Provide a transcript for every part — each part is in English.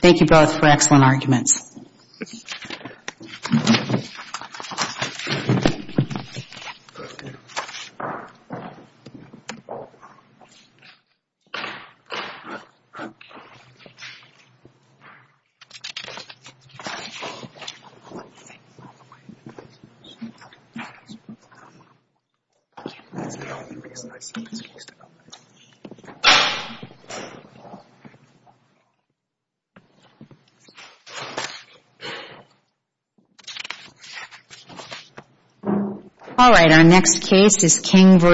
Thank you both for excellent arguments. All right, our next case is King v.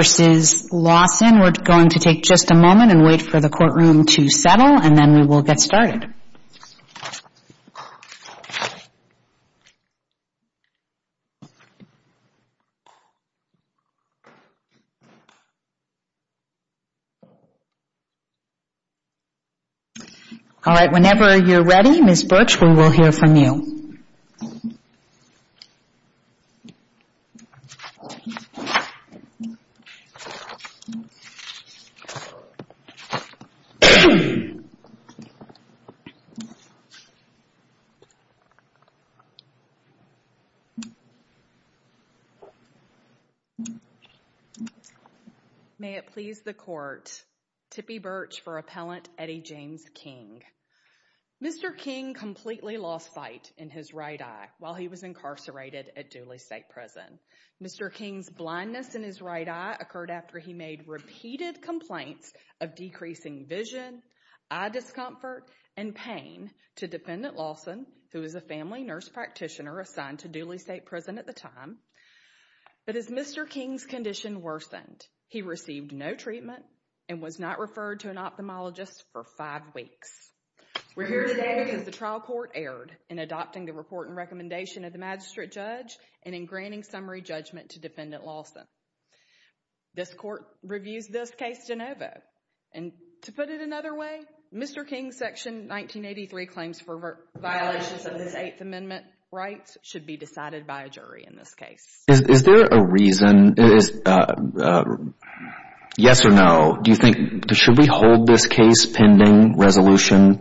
Lawson. We're going to take just a moment and wait for the courtroom to settle, and then we will get started. All right, whenever you're ready, Ms. Birch, we will hear from you. May it please the court, Tippie Birch for Appellant Eddie James King. Mr. King completely lost sight in his right eye while he was incarcerated at Dooley State Prison. Mr. King's blindness in his right eye occurred after he made repeated complaints of decreasing vision, eye discomfort, and pain to Defendant Lawson, who was a family nurse practitioner assigned to Dooley State Prison at the time. But as Mr. King's condition worsened, he received no treatment and was not referred to an ophthalmologist for five weeks. We're here today because the trial court erred in adopting the report and recommendation of the magistrate judge and in granting summary judgment to Defendant Lawson. This court reviews this case de novo. And to put it another way, Mr. King's Section 1983 claims for violations of his Eighth Amendment rights should be decided by a jury in this case. Is there a reason, yes or no? Do you think, should we hold this case pending resolution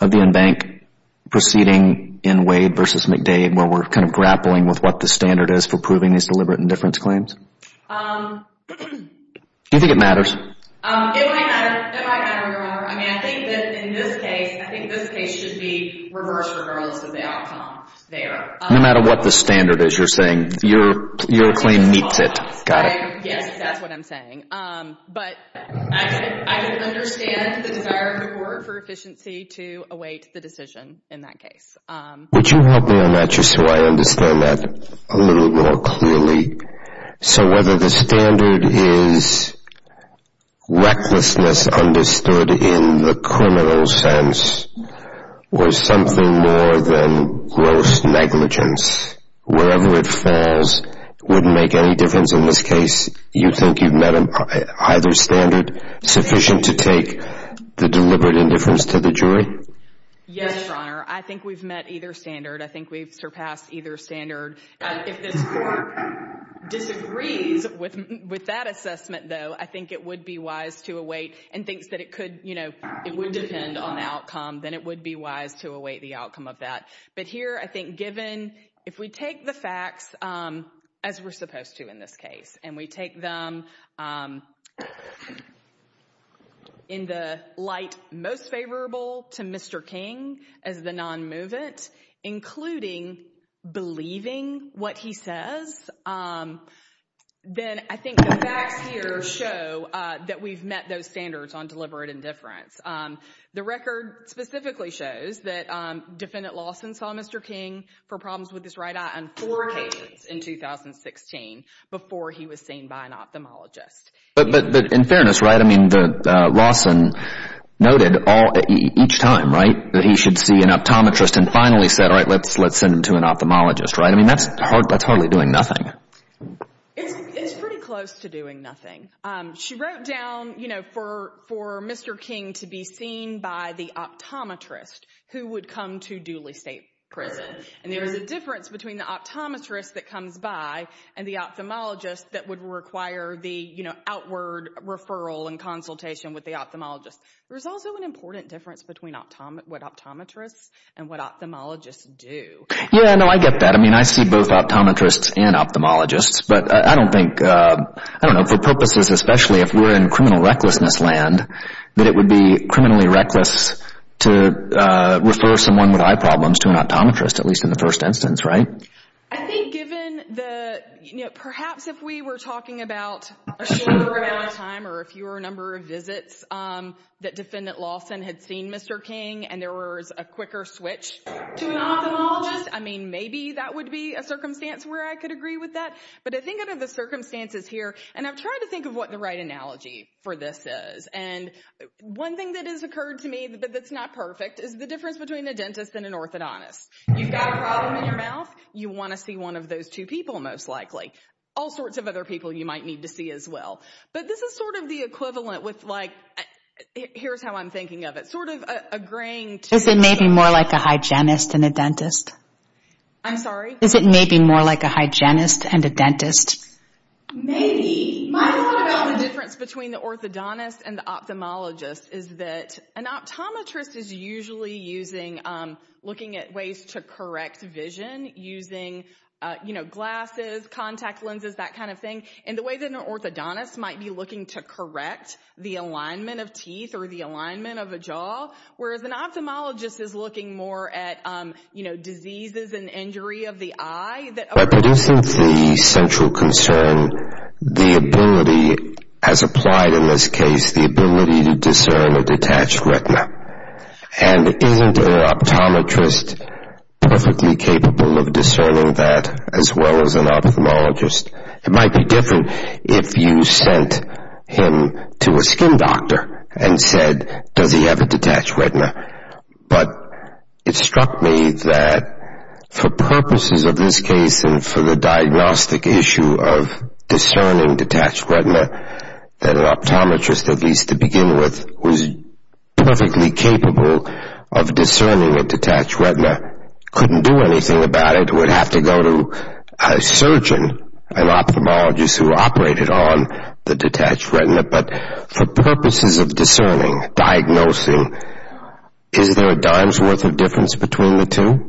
of the in-bank proceeding in Wade v. McDade where we're kind of grappling with what the standard is for proving these deliberate indifference claims? Do you think it matters? It might matter. It might matter. I mean, I think that in this case, I think this case should be reversed regardless of the outcome there. No matter what the standard is you're saying, your claim meets it. Yes, that's what I'm saying. But I can understand the desire of the court for efficiency to await the decision in that case. Would you help me on that just so I understand that a little more clearly? So whether the standard is recklessness understood in the criminal sense or something more than gross negligence, wherever it falls wouldn't make any difference in this case? You think you've met either standard sufficient to take the deliberate indifference to the jury? Yes, Your Honor. I think we've met either standard. I think we've surpassed either standard. If this court disagrees with that assessment, though, I think it would be wise to await and thinks that it could, you know, it would depend on the outcome, then it would be wise to await the outcome of that. But here I think given if we take the facts as we're supposed to in this case and we take them in the light most favorable to Mr. King as the non-movement, including believing what he says, then I think the facts here show that we've met those standards on deliberate indifference. The record specifically shows that Defendant Lawson saw Mr. King for problems with his right eye on four occasions in 2016 before he was seen by an ophthalmologist. But in fairness, right, I mean, Lawson noted each time, right, that he should see an optometrist and finally said, all right, let's send him to an ophthalmologist, right? I mean, that's hardly doing nothing. It's pretty close to doing nothing. She wrote down, you know, for Mr. King to be seen by the optometrist who would come to Dooley State Prison. And there is a difference between the optometrist that comes by and the ophthalmologist that would require the, you know, outward referral and consultation with the ophthalmologist. There's also an important difference between what optometrists and what ophthalmologists do. Yeah, no, I get that. I mean, I see both optometrists and ophthalmologists, but I don't think, I don't know, for purposes especially if we're in criminal recklessness land, that it would be criminally reckless to refer someone with eye problems to an optometrist, at least in the first instance, right? I think given the, you know, perhaps if we were talking about a shorter amount of time or fewer number of visits that Defendant Lawson had seen Mr. King and there was a quicker switch to an ophthalmologist, I mean, maybe that would be a circumstance where I could agree with that. But I think under the circumstances here, and I've tried to think of what the right analogy for this is, and one thing that has occurred to me that's not perfect is the difference between a dentist and an orthodontist. You've got a problem in your mouth, you want to see one of those two people most likely. All sorts of other people you might need to see as well. But this is sort of the equivalent with like, here's how I'm thinking of it, sort of agreeing to... Is it maybe more like a hygienist than a dentist? I'm sorry? Is it maybe more like a hygienist than a dentist? Maybe. My thought about the difference between the orthodontist and the ophthalmologist is that an optometrist is usually using, looking at ways to correct vision using, you know, glasses, contact lenses, that kind of thing, and the way that an orthodontist might be looking to correct the alignment of teeth or the alignment of a jaw, whereas an ophthalmologist is looking more at, you know, By producing the central concern, the ability has applied in this case, the ability to discern a detached retina. And isn't an optometrist perfectly capable of discerning that as well as an ophthalmologist? It might be different if you sent him to a skin doctor and said, does he have a detached retina? But it struck me that for purposes of this case and for the diagnostic issue of discerning detached retina, that an optometrist, at least to begin with, was perfectly capable of discerning a detached retina. Couldn't do anything about it. Would have to go to a surgeon, an ophthalmologist who operated on the detached retina. But for purposes of discerning, diagnosing, is there a dime's worth of difference between the two?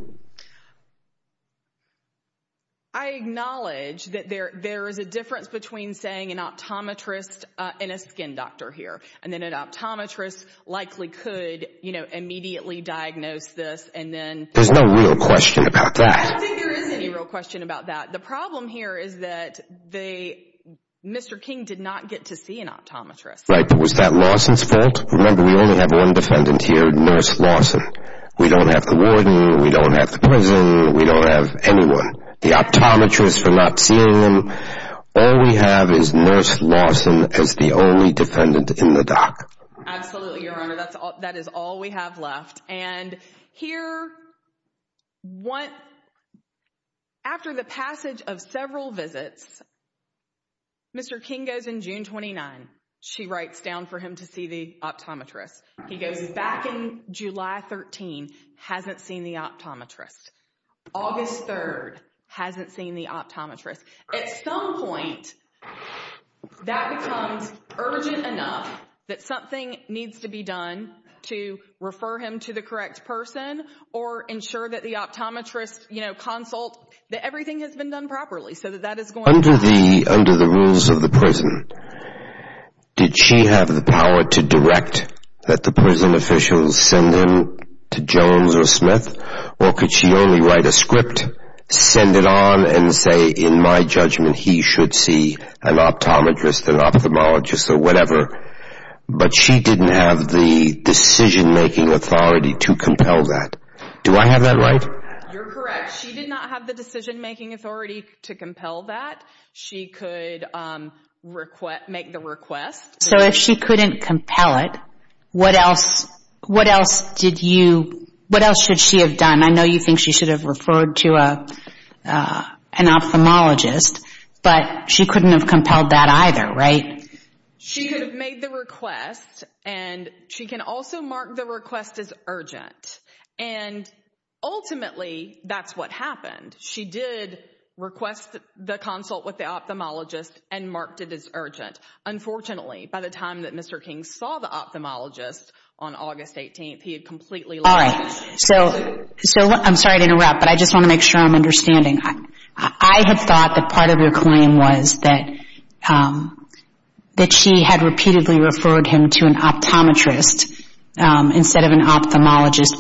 I acknowledge that there is a difference between saying an optometrist and a skin doctor here. And then an optometrist likely could, you know, immediately diagnose this and then There's no real question about that. I don't think there is any real question about that. The problem here is that Mr. King did not get to see an optometrist. Was that Lawson's fault? Remember, we only have one defendant here, Nurse Lawson. We don't have the warden. We don't have the prison. We don't have anyone. The optometrist for not seeing him. All we have is Nurse Lawson as the only defendant in the dock. Absolutely, Your Honor. That is all we have left. And here, after the passage of several visits, Mr. King goes in June 29. She writes down for him to see the optometrist. He goes back in July 13, hasn't seen the optometrist. August 3, hasn't seen the optometrist. At some point, that becomes urgent enough that something needs to be done to refer him to the correct person or ensure that the optometrist, you know, consult that everything has been done properly so that that is going on. Under the rules of the prison, did she have the power to direct that the prison officials send him to Jones or Smith? Or could she only write a script, send it on, and say, in my judgment, he should see an optometrist, an ophthalmologist, or whatever? But she didn't have the decision-making authority to compel that. Do I have that right? You're correct. She did not have the decision-making authority to compel that. She could make the request. So if she couldn't compel it, what else should she have done? I know you think she should have referred to an ophthalmologist, but she couldn't have compelled that either, right? She could have made the request, and she can also mark the request as urgent. And ultimately, that's what happened. She did request the consult with the ophthalmologist and marked it as urgent. Unfortunately, by the time that Mr. King saw the ophthalmologist on August 18th, he had completely lost it. All right. So I'm sorry to interrupt, but I just want to make sure I'm understanding. I have thought that part of your claim was that she had repeatedly referred him to an optometrist instead of an ophthalmologist,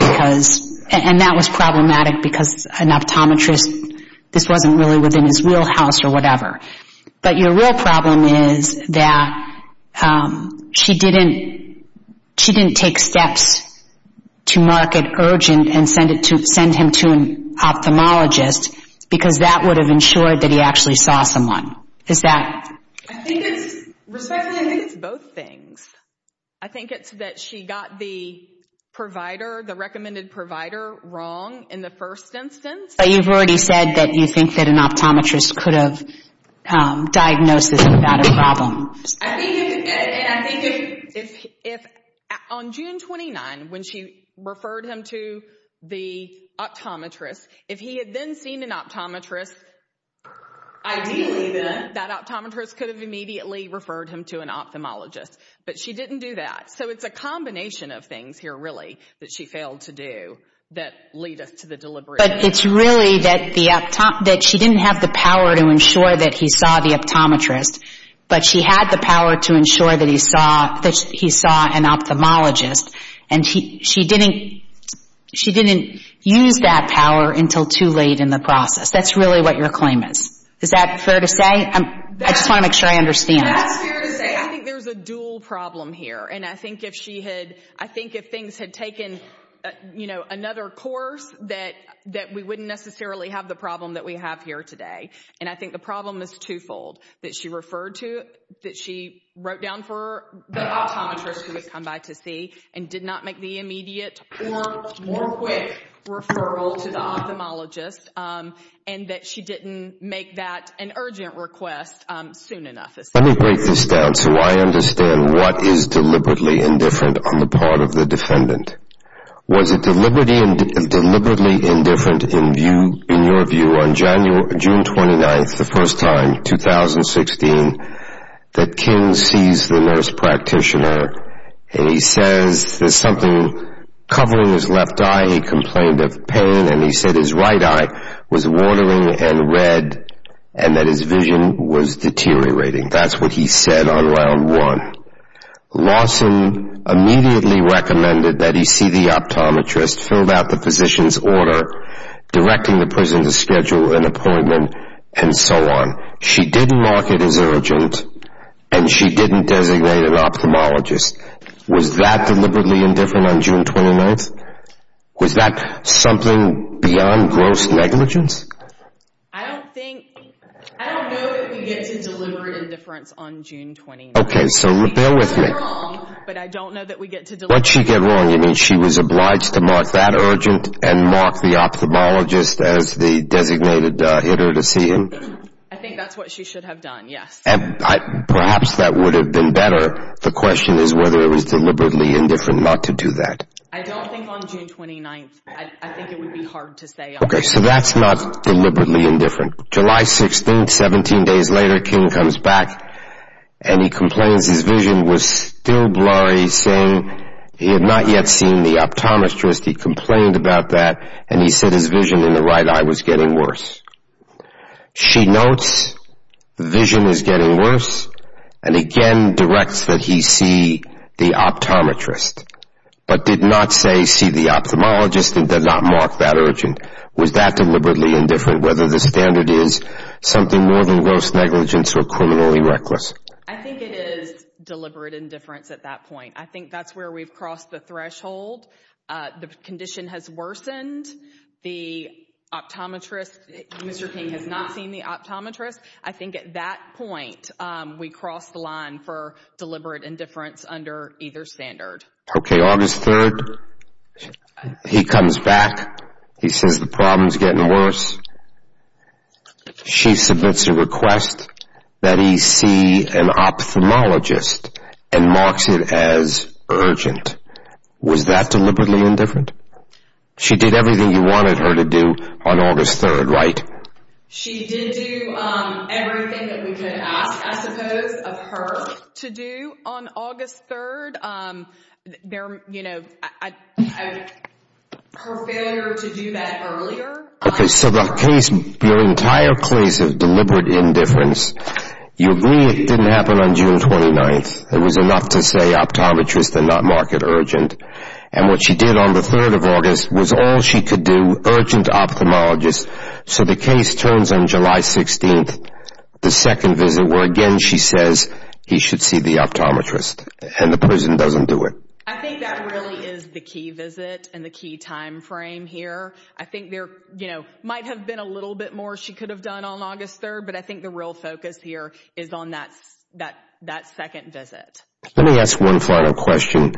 and that was problematic because an optometrist, this wasn't really within his wheelhouse or whatever. But your real problem is that she didn't take steps to mark it urgent and send him to an ophthalmologist because that would have ensured that he actually saw someone. Is that? I think it's both things. I think it's that she got the provider, the recommended provider, wrong in the first instance. But you've already said that you think that an optometrist could have diagnosed this without a problem. And I think if on June 29, when she referred him to the optometrist, if he had then seen an optometrist, ideally then that optometrist could have immediately referred him to an ophthalmologist. But she didn't do that. So it's a combination of things here, really, that she failed to do that lead us to the deliberation. But it's really that she didn't have the power to ensure that he saw the optometrist, but she had the power to ensure that he saw an ophthalmologist. And she didn't use that power until too late in the process. That's really what your claim is. Is that fair to say? I just want to make sure I understand. That's fair to say. I think there's a dual problem here. I think if things had taken, you know, another course, that we wouldn't necessarily have the problem that we have here today. And I think the problem is twofold, that she referred to, that she wrote down for the optometrist who had come by to see, and did not make the immediate or more quick referral to the ophthalmologist, and that she didn't make that an urgent request soon enough. Let me break this down so I understand what is deliberately indifferent on the part of the defendant. Was it deliberately indifferent in your view on June 29th, the first time, 2016, that King sees the nurse practitioner and he says there's something covering his left eye, he complained of pain, and he said his right eye was watering and red, and that his vision was deteriorating. That's what he said on round one. Lawson immediately recommended that he see the optometrist, filled out the physician's order, directing the prison to schedule an appointment, and so on. She didn't mark it as urgent, and she didn't designate an ophthalmologist. Was that deliberately indifferent on June 29th? Was that something beyond gross negligence? I don't think, I don't know that we get to deliberate indifference on June 29th. Okay, so bear with me. What she did wrong, but I don't know that we get to deliberate indifference. What she did wrong, you mean she was obliged to mark that urgent and mark the ophthalmologist as the designated hitter to see him? I think that's what she should have done, yes. Perhaps that would have been better. The question is whether it was deliberately indifferent not to do that. I don't think on June 29th. I think it would be hard to say. Okay, so that's not deliberately indifferent. July 16th, 17 days later, King comes back, and he complains his vision was still blurry, saying he had not yet seen the optometrist. He complained about that, and he said his vision in the right eye was getting worse. She notes the vision is getting worse, and again directs that he see the optometrist, but did not say see the ophthalmologist and did not mark that urgent. Was that deliberately indifferent, whether the standard is something more than gross negligence or criminally reckless? I think it is deliberate indifference at that point. I think that's where we've crossed the threshold. The condition has worsened. The optometrist, Mr. King has not seen the optometrist. I think at that point, we crossed the line for deliberate indifference under either standard. Okay, August 3rd, he comes back. He says the problem is getting worse. She submits a request that he see an ophthalmologist and marks it as urgent. Was that deliberately indifferent? She did everything you wanted her to do on August 3rd, right? She did do everything that we could ask, I suppose, of her to do on August 3rd. Her failure to do that earlier. Okay, so the case, your entire case of deliberate indifference, you agree it didn't happen on June 29th. It was enough to say optometrist and not mark it urgent, and what she did on the 3rd of August was all she could do, urgent ophthalmologist, so the case turns on July 16th, the second visit where, again, she says he should see the optometrist, and the prison doesn't do it. I think that really is the key visit and the key time frame here. I think there might have been a little bit more she could have done on August 3rd, but I think the real focus here is on that second visit. Let me ask one final question.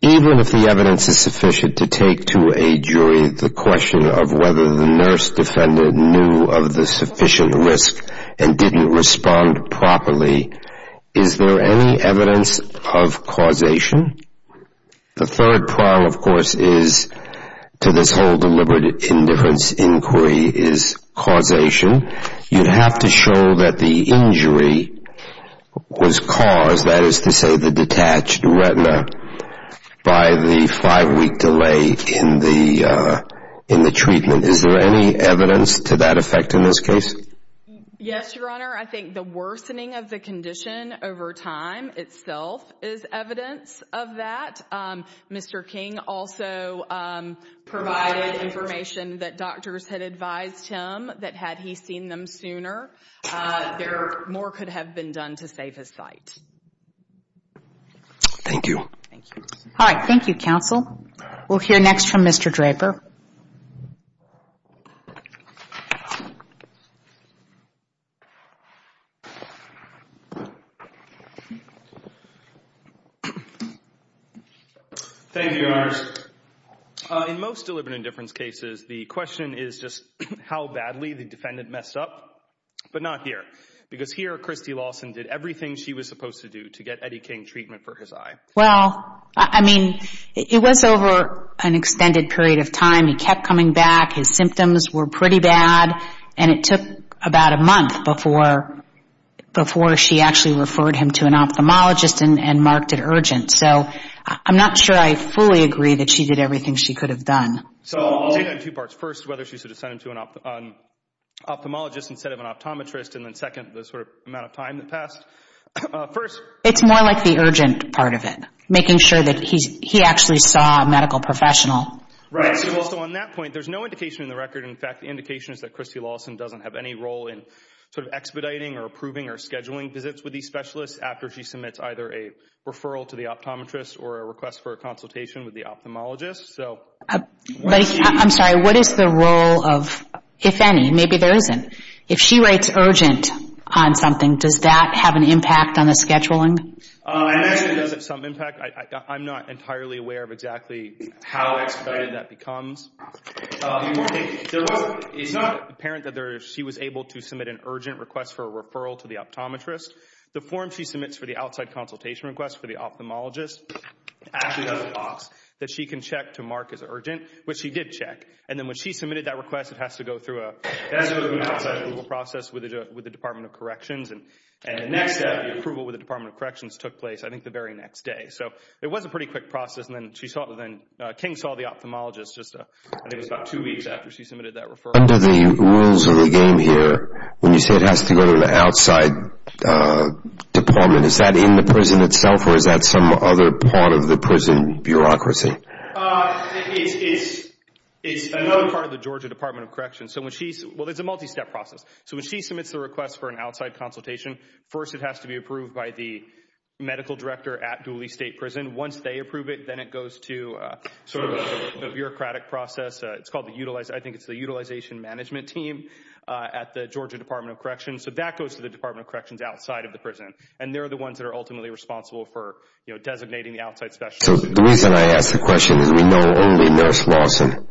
Even if the evidence is sufficient to take to a jury the question of whether the nurse defendant knew of the sufficient risk and didn't respond properly, is there any evidence of causation? The third prong, of course, is to this whole deliberate indifference inquiry is causation. You'd have to show that the injury was caused, that is to say the detached retina, by the five-week delay in the treatment. Is there any evidence to that effect in this case? Yes, Your Honor. I think the worsening of the condition over time itself is evidence of that. Mr. King also provided information that doctors had advised him that had he seen them sooner, more could have been done to save his sight. Thank you. All right. Thank you, counsel. We'll hear next from Mr. Draper. Thank you, Your Honor. In most deliberate indifference cases the question is just how badly the defendant messed up, but not here. Because here Christy Lawson did everything she was supposed to do to get Eddie King treatment for his eye. Well, I mean, it was over an extended period of time. He kept coming back. His symptoms were pretty bad, and it took about a month before she actually referred him to an ophthalmologist and marked it urgent. So I'm not sure I fully agree that she did everything she could have done. So she had two parts. First, whether she should have sent him to an ophthalmologist instead of an optometrist, and then second, the sort of amount of time that passed. First. It's more like the urgent part of it, making sure that he actually saw a medical professional. Right. So on that point, there's no indication in the record. In fact, the indication is that Christy Lawson doesn't have any role in sort of expediting or approving or scheduling visits with these specialists after she submits either a referral to the optometrist or a request for a consultation with the ophthalmologist. I'm sorry. What is the role of if any? Maybe there isn't. If she writes urgent on something, does that have an impact on the scheduling? I imagine it does have some impact. I'm not entirely aware of exactly how expedited that becomes. It's not apparent that she was able to submit an urgent request for a referral to the optometrist. The form she submits for the outside consultation request for the ophthalmologist actually has a box that she can check to mark as urgent, which she did check. And then when she submitted that request, it has to go through an outside approval process with the Department of Corrections. And the next step, the approval with the Department of Corrections took place I think the very next day. So it was a pretty quick process. And then King saw the ophthalmologist just I think it was about two weeks after she submitted that referral. Under the rules of the game here, when you say it has to go to the outside department, is that in the prison itself or is that some other part of the prison bureaucracy? It's another part of the Georgia Department of Corrections. Well, it's a multi-step process. So when she submits the request for an outside consultation, first it has to be approved by the medical director at Dooley State Prison. Once they approve it, then it goes to sort of a bureaucratic process. It's called the Utilization Management Team at the Georgia Department of Corrections. So that goes to the Department of Corrections outside of the prison. And they're the ones that are ultimately responsible for designating the outside specialists. So the reason I ask the question is we know only Nurse Lawson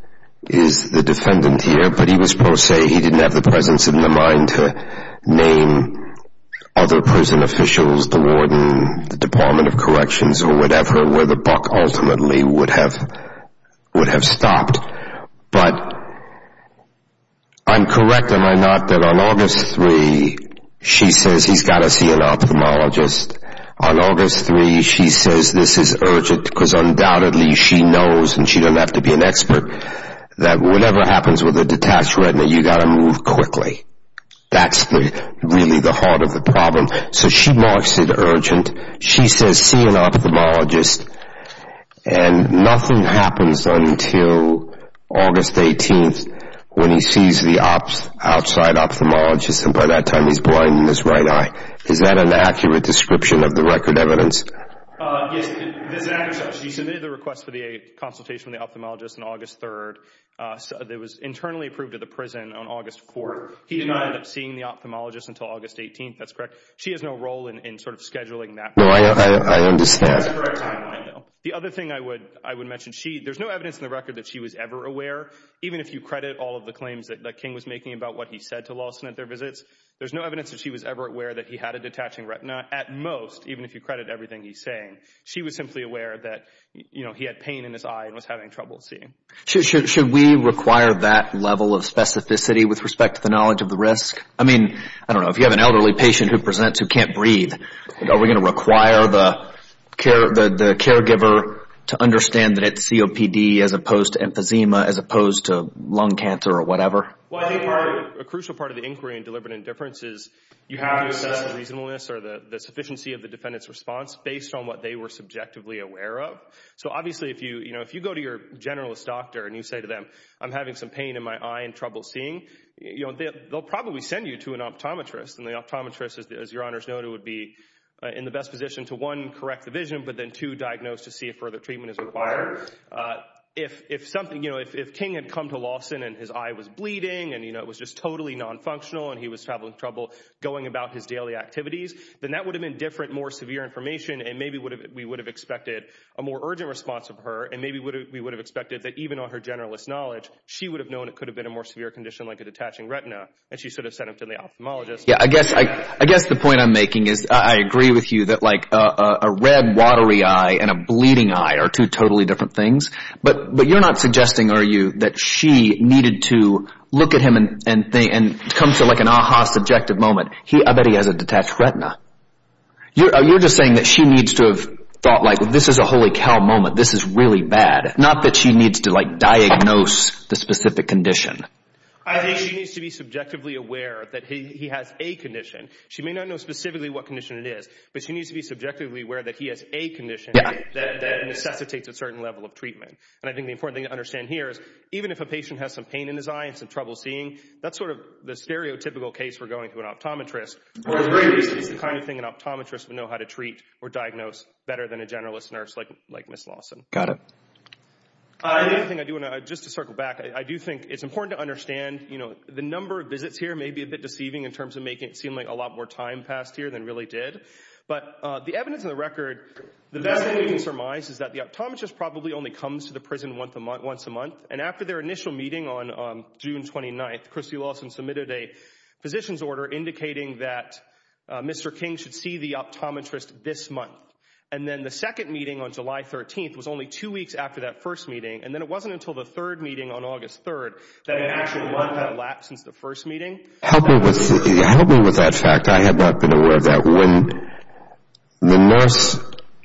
is the defendant here, but he was pro se. He didn't have the presence in the mind to name other prison officials, the warden, the Department of Corrections or whatever, where the buck ultimately would have stopped. But I'm correct, am I not, that on August 3, she says he's got to see an ophthalmologist. On August 3, she says this is urgent because undoubtedly she knows and she doesn't have to be an expert that whatever happens with a detached retina, you've got to move quickly. That's really the heart of the problem. So she marks it urgent. She says see an ophthalmologist. And nothing happens until August 18 when he sees the outside ophthalmologist. And by that time, he's blind in his right eye. Is that an accurate description of the record evidence? Yes, it is an accurate description. She submitted the request for the consultation with the ophthalmologist on August 3. It was internally approved at the prison on August 4. He did not end up seeing the ophthalmologist until August 18. That's correct. She has no role in sort of scheduling that. No, I understand. That's correct. The other thing I would mention, there's no evidence in the record that she was ever aware, even if you credit all of the claims that King was making about what he said to Lawson at their visits. There's no evidence that she was ever aware that he had a detaching retina at most, even if you credit everything he's saying. She was simply aware that he had pain in his eye and was having trouble seeing. Should we require that level of specificity with respect to the knowledge of the risk? I mean, I don't know, if you have an elderly patient who presents who can't breathe, are we going to require the caregiver to understand that it's COPD as opposed to emphysema as opposed to lung cancer or whatever? Well, I think a crucial part of the inquiry in deliberate indifference is you have to assess the reasonableness or the sufficiency of the defendant's response based on what they were subjectively aware of. So obviously, if you go to your generalist doctor and you say to them, I'm having some pain in my eye and trouble seeing, they'll probably send you to an optometrist, and the optometrist, as Your Honor has noted, would be in the best position to, one, correct the vision, but then, two, diagnose to see if further treatment is required. If King had come to Lawson and his eye was bleeding and it was just totally nonfunctional and he was having trouble going about his daily activities, then that would have been different, more severe information, and maybe we would have expected a more urgent response from her, and maybe we would have expected that even on her generalist knowledge, she would have known it could have been a more severe condition like a detaching retina, and she should have sent him to the ophthalmologist. I guess the point I'm making is I agree with you that a red, watery eye and a bleeding eye are two totally different things, but you're not suggesting, are you, that she needed to look at him and come to like an ah-ha subjective moment, I bet he has a detached retina. You're just saying that she needs to have thought, like, this is a holy cow moment, this is really bad, not that she needs to, like, diagnose the specific condition. I think she needs to be subjectively aware that he has a condition. She may not know specifically what condition it is, but she needs to be subjectively aware that he has a condition that necessitates a certain level of treatment, and I think the important thing to understand here is even if a patient has some pain in his eye and some trouble seeing, that's sort of the stereotypical case we're going to an optometrist, or at least it's the kind of thing an optometrist would know how to treat or diagnose better than a generalist nurse like Ms. Lawson. Got it. The other thing I do want to, just to circle back, I do think it's important to understand, you know, the number of visits here may be a bit deceiving in terms of making it seem like a lot more time passed here than really did, but the evidence on the record, the best thing we can surmise is that the optometrist probably only comes to the prison once a month, and after their initial meeting on June 29th, Christy Lawson submitted a physician's order indicating that Mr. King should see the optometrist this month, and then the second meeting on July 13th was only two weeks after that first meeting, and then it wasn't until the third meeting on August 3rd that it actually went that lap since the first meeting. Help me with that fact. I have not been aware of that. When the nurse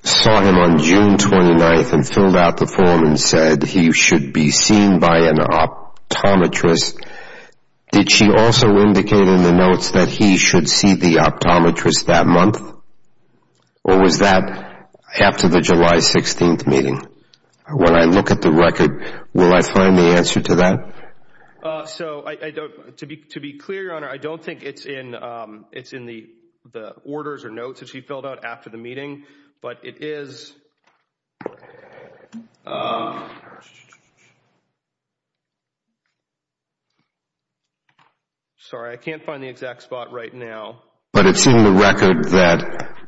saw him on June 29th and filled out the form and said he should be seen by an optometrist, did she also indicate in the notes that he should see the optometrist that month, or was that after the July 16th meeting? When I look at the record, will I find the answer to that? So to be clear, Your Honor, I don't think it's in the orders or notes that she filled out after the meeting, but it is. Sorry, I can't find the exact spot right now. But it's in the record that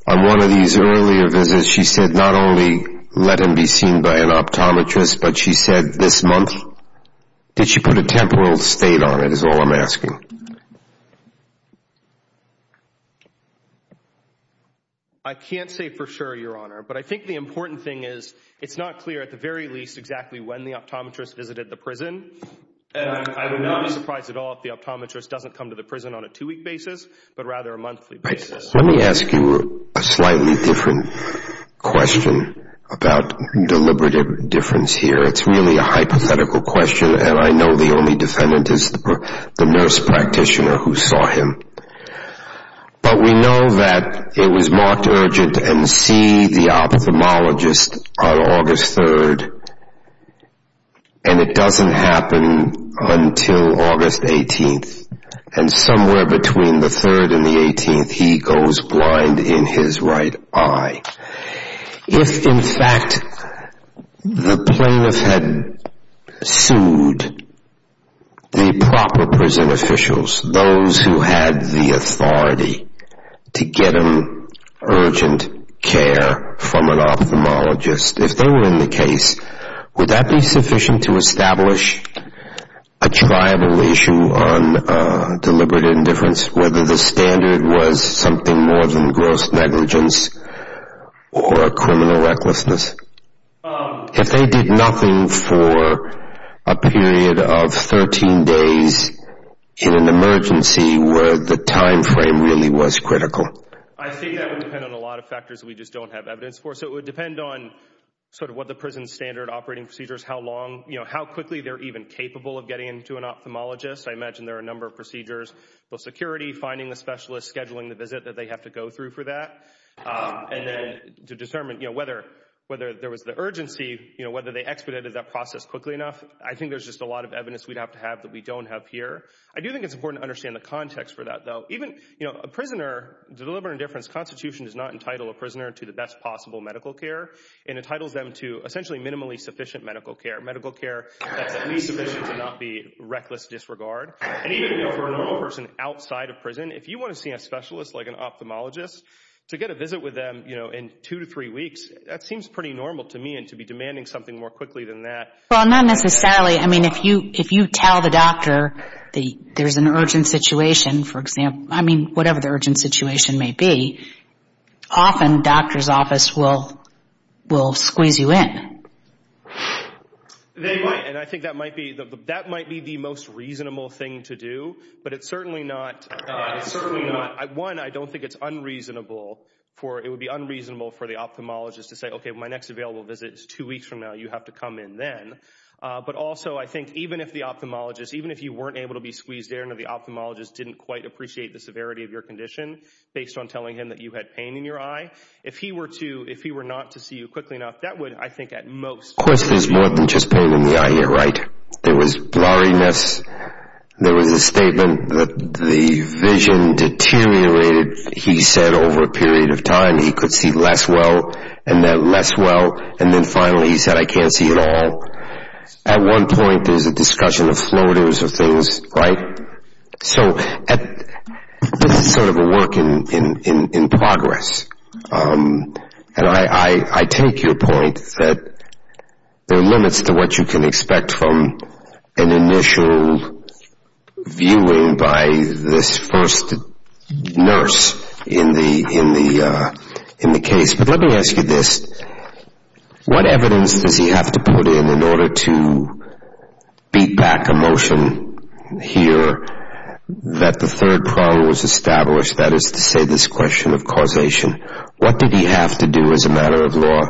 on one of these earlier visits she said not only let him be seen by an optometrist, but she said this month. Did she put a temporal state on it is all I'm asking. I can't say for sure, Your Honor, but I think the important thing is it's not clear at the very least exactly when the optometrist visited the prison, and I would not be surprised at all if the optometrist doesn't come to the prison on a two-week basis, but rather a monthly basis. Let me ask you a slightly different question about deliberative difference here. It's really a hypothetical question, and I know the only defendant is the nurse practitioner who saw him. But we know that it was marked urgent and see the ophthalmologist on August 3rd, and it doesn't happen until August 18th. And somewhere between the 3rd and the 18th, he goes blind in his right eye. If, in fact, the plaintiff had sued the proper prison officials, those who had the authority to get him urgent care from an ophthalmologist, if they were in the case, would that be sufficient to establish a tribal issue on deliberate indifference, whether the standard was something more than gross negligence or a criminal recklessness? If they did nothing for a period of 13 days in an emergency where the time frame really was critical? I think that would depend on a lot of factors we just don't have evidence for. So it would depend on sort of what the prison standard operating procedure is, how long, you know, how quickly they're even capable of getting into an ophthalmologist. I imagine there are a number of procedures, both security, finding the specialist, scheduling the visit that they have to go through for that. And then to determine, you know, whether there was the urgency, you know, whether they expedited that process quickly enough. I think there's just a lot of evidence we'd have to have that we don't have here. I do think it's important to understand the context for that, though. Even, you know, a prisoner, deliberate indifference, Constitution does not entitle a prisoner to the best possible medical care. It entitles them to essentially minimally sufficient medical care. Medical care that's at least sufficient to not be reckless disregard. And even, you know, for a normal person outside of prison, if you want to see a specialist like an ophthalmologist, to get a visit with them, you know, in two to three weeks, that seems pretty normal to me and to be demanding something more quickly than that. Well, not necessarily. I mean, if you tell the doctor there's an urgent situation, for example, I mean, whatever the urgent situation may be, often doctor's office will squeeze you in. They might. And I think that might be that might be the most reasonable thing to do. But it's certainly not. It's certainly not. One, I don't think it's unreasonable for it would be unreasonable for the ophthalmologist to say, OK, my next available visit is two weeks from now. You have to come in then. But also, I think even if the ophthalmologist, even if you weren't able to be squeezed into the ophthalmologist, didn't quite appreciate the severity of your condition based on telling him that you had pain in your eye. If he were to if he were not to see you quickly enough, that would, I think, at most. Of course, there's more than just pain in the eye here, right? There was blurriness. There was a statement that the vision deteriorated. He said over a period of time he could see less well and then less well. And then finally he said, I can't see at all. At one point, there's a discussion of floaters of things. So this is sort of a work in progress. And I take your point that there are limits to what you can expect from an initial viewing by this first nurse in the case. But let me ask you this. What evidence does he have to put in in order to beat back a motion here that the third problem was established? That is to say, this question of causation. What did he have to do as a matter of law?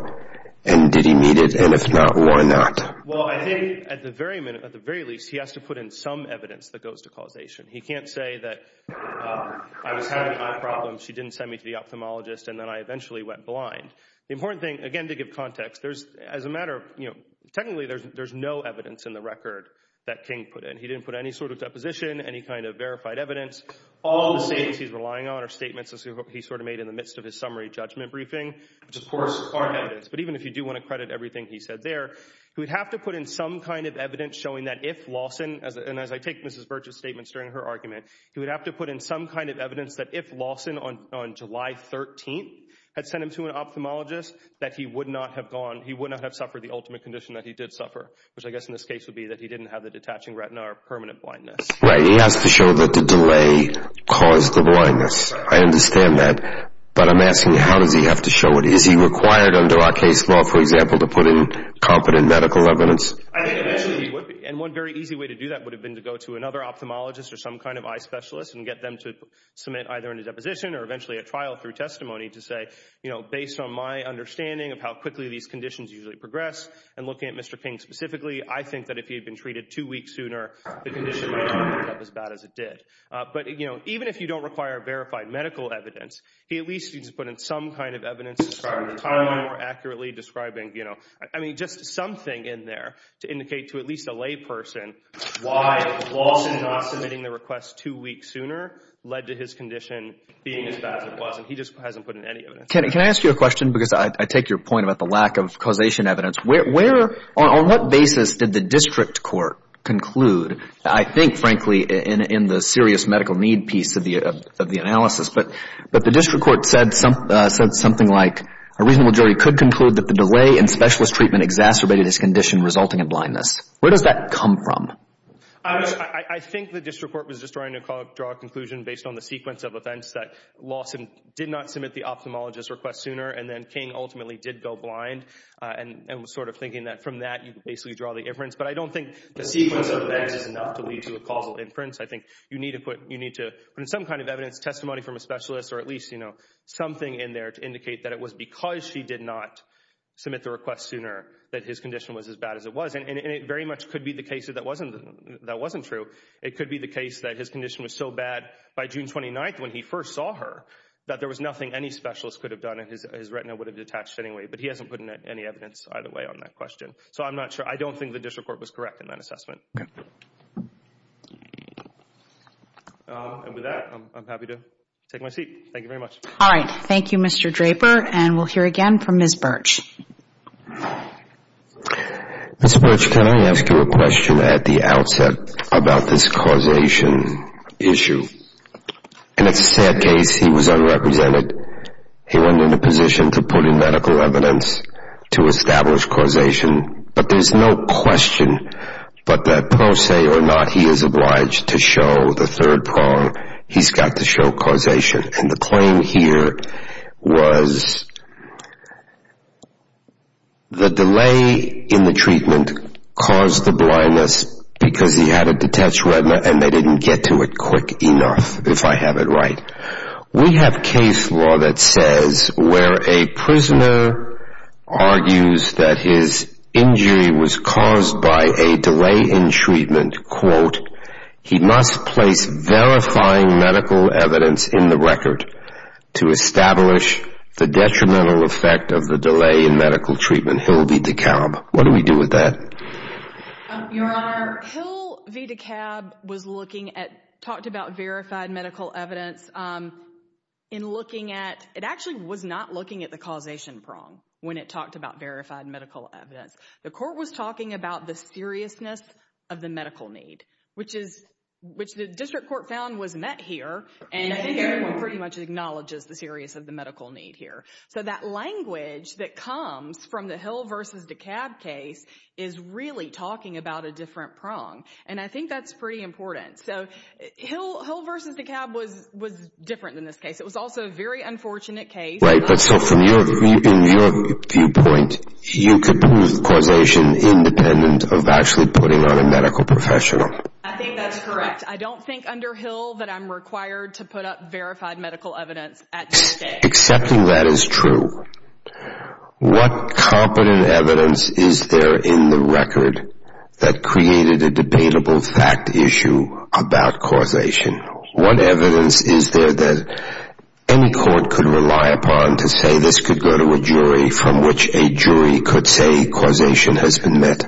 And did he need it? And if not, why not? Well, I think at the very minute, at the very least, he has to put in some evidence that goes to causation. He can't say that I was having eye problems. She didn't send me to the ophthalmologist, and then I eventually went blind. The important thing, again, to give context, there's as a matter of, you know, technically there's no evidence in the record that King put in. He didn't put any sort of deposition, any kind of verified evidence. All the statements he's relying on are statements he sort of made in the midst of his summary judgment briefing, which of course are evidence. But even if you do want to credit everything he said there, he would have to put in some kind of evidence showing that if Lawson, and as I take Mrs. Birch's statements during her argument, he would have to put in some kind of evidence that if Lawson on July 13th had sent him to an ophthalmologist, that he would not have gone, he would not have suffered the ultimate condition that he did suffer, which I guess in this case would be that he didn't have the detaching retina or permanent blindness. Right. He has to show that the delay caused the blindness. I understand that, but I'm asking how does he have to show it? Is he required under our case law, for example, to put in competent medical evidence? I think eventually he would be. And one very easy way to do that would have been to go to another ophthalmologist or some kind of eye specialist and get them to submit either a deposition or eventually a trial through testimony to say, you know, based on my understanding of how quickly these conditions usually progress and looking at Mr. King specifically, I think that if he had been treated two weeks sooner, the condition wouldn't have ended up as bad as it did. But, you know, even if you don't require verified medical evidence, he at least needs to put in some kind of evidence describing the time more accurately, describing, you know, I mean, just something in there to indicate to at least a lay person why the loss in not submitting the request two weeks sooner led to his condition being as bad as it was. And he just hasn't put in any evidence. Can I ask you a question? Because I take your point about the lack of causation evidence. On what basis did the district court conclude, I think, frankly, in the serious medical need piece of the analysis, but the district court said something like, a reasonable jury could conclude that the delay in specialist treatment exacerbated his condition resulting in blindness. Where does that come from? I think the district court was just trying to draw a conclusion based on the sequence of events that Lawson did not submit the ophthalmologist's request sooner and then King ultimately did go blind and was sort of thinking that from that you could basically draw the inference. But I don't think the sequence of events is enough to lead to a causal inference. I think you need to put in some kind of evidence, testimony from a specialist, or at least something in there to indicate that it was because she did not submit the request sooner that his condition was as bad as it was. And it very much could be the case that that wasn't true. It could be the case that his condition was so bad by June 29th when he first saw her that there was nothing any specialist could have done and his retina would have detached anyway. But he hasn't put in any evidence either way on that question. So I'm not sure. I don't think the district court was correct in that assessment. Okay. And with that, I'm happy to take my seat. Thank you very much. All right. Thank you, Mr. Draper. And we'll hear again from Ms. Birch. Ms. Birch, can I ask you a question at the outset about this causation issue? And it's a sad case. He was unrepresented. He went into position to put in medical evidence to establish causation. But there's no question but that, per se or not, he is obliged to show the third prong. He's got to show causation. And the claim here was the delay in the treatment caused the blindness because he had a detached retina, and they didn't get to it quick enough, if I have it right. We have case law that says where a prisoner argues that his injury was caused by a delay in treatment, quote, he must place verifying medical evidence in the record to establish the detrimental effect of the delay in medical treatment, Hill v. DeKalb. What do we do with that? Your Honor, Hill v. DeKalb was looking at, talked about verified medical evidence in looking at, it actually was not looking at the causation prong when it talked about verified medical evidence. The court was talking about the seriousness of the medical need, which the district court found was met here, and I think everyone pretty much acknowledges the seriousness of the medical need here. So that language that comes from the Hill v. DeKalb case is really talking about a different prong, and I think that's pretty important. So Hill v. DeKalb was different than this case. It was also a very unfortunate case. Right, but so from your viewpoint, you could prove causation independent of actually putting on a medical professional. I think that's correct. I don't think under Hill that I'm required to put up verified medical evidence at this stage. Accepting that is true. What competent evidence is there in the record that created a debatable fact issue about causation? What evidence is there that any court could rely upon to say this could go to a jury, from which a jury could say causation has been met?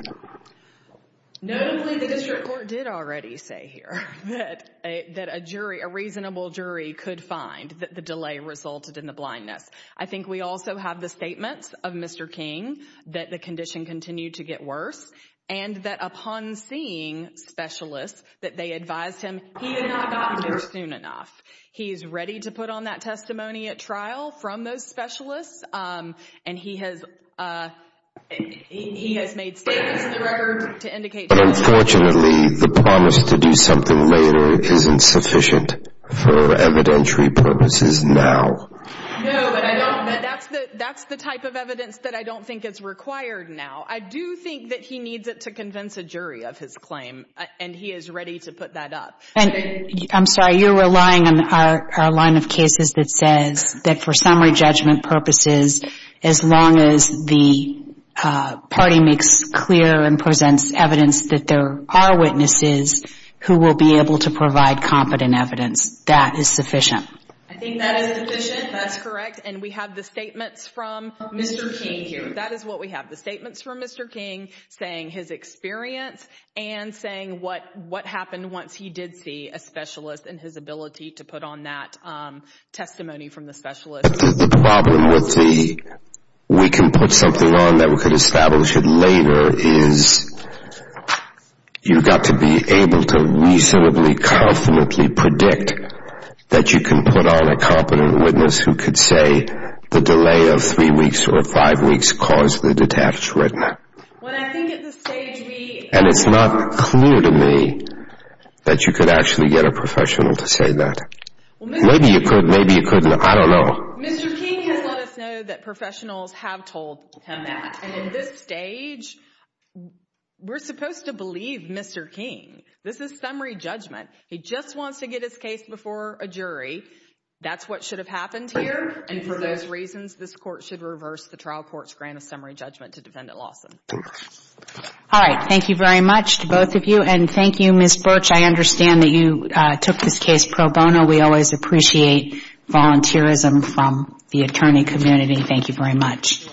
Notably, the district court did already say here that a reasonable jury could find that the delay resulted in the blindness. I think we also have the statements of Mr. King that the condition continued to get worse and that upon seeing specialists, that they advised him he had not gotten there soon enough. He is ready to put on that testimony at trial from those specialists, and he has made statements in the record to indicate that. But unfortunately, the promise to do something later isn't sufficient for evidentiary purposes now. No, but that's the type of evidence that I don't think is required now. I do think that he needs it to convince a jury of his claim, and he is ready to put that up. And I'm sorry, you're relying on our line of cases that says that for summary judgment purposes, as long as the party makes clear and presents evidence that there are witnesses who will be able to provide competent evidence, that is sufficient. I think that is sufficient. That's correct. And we have the statements from Mr. King here. That is what we have, the statements from Mr. King saying his experience and saying what happened once he did see a specialist and his ability to put on that testimony from the specialist. The problem with the we can put something on that we could establish it later is you've got to be able to reasonably, confidently predict that you can put on a competent witness who could say the delay of three weeks or five weeks caused the detached retina. And it's not clear to me that you could actually get a professional to say that. Maybe you could, maybe you couldn't. I don't know. Mr. King has let us know that professionals have told him that. And at this stage, we're supposed to believe Mr. King. This is summary judgment. He just wants to get his case before a jury. That's what should have happened here, and for those reasons, this court should reverse the trial court's grant of summary judgment to Defendant Lawson. All right. Thank you very much to both of you, and thank you, Ms. Birch. I understand that you took this case pro bono. We always appreciate volunteerism from the attorney community. Thank you very much.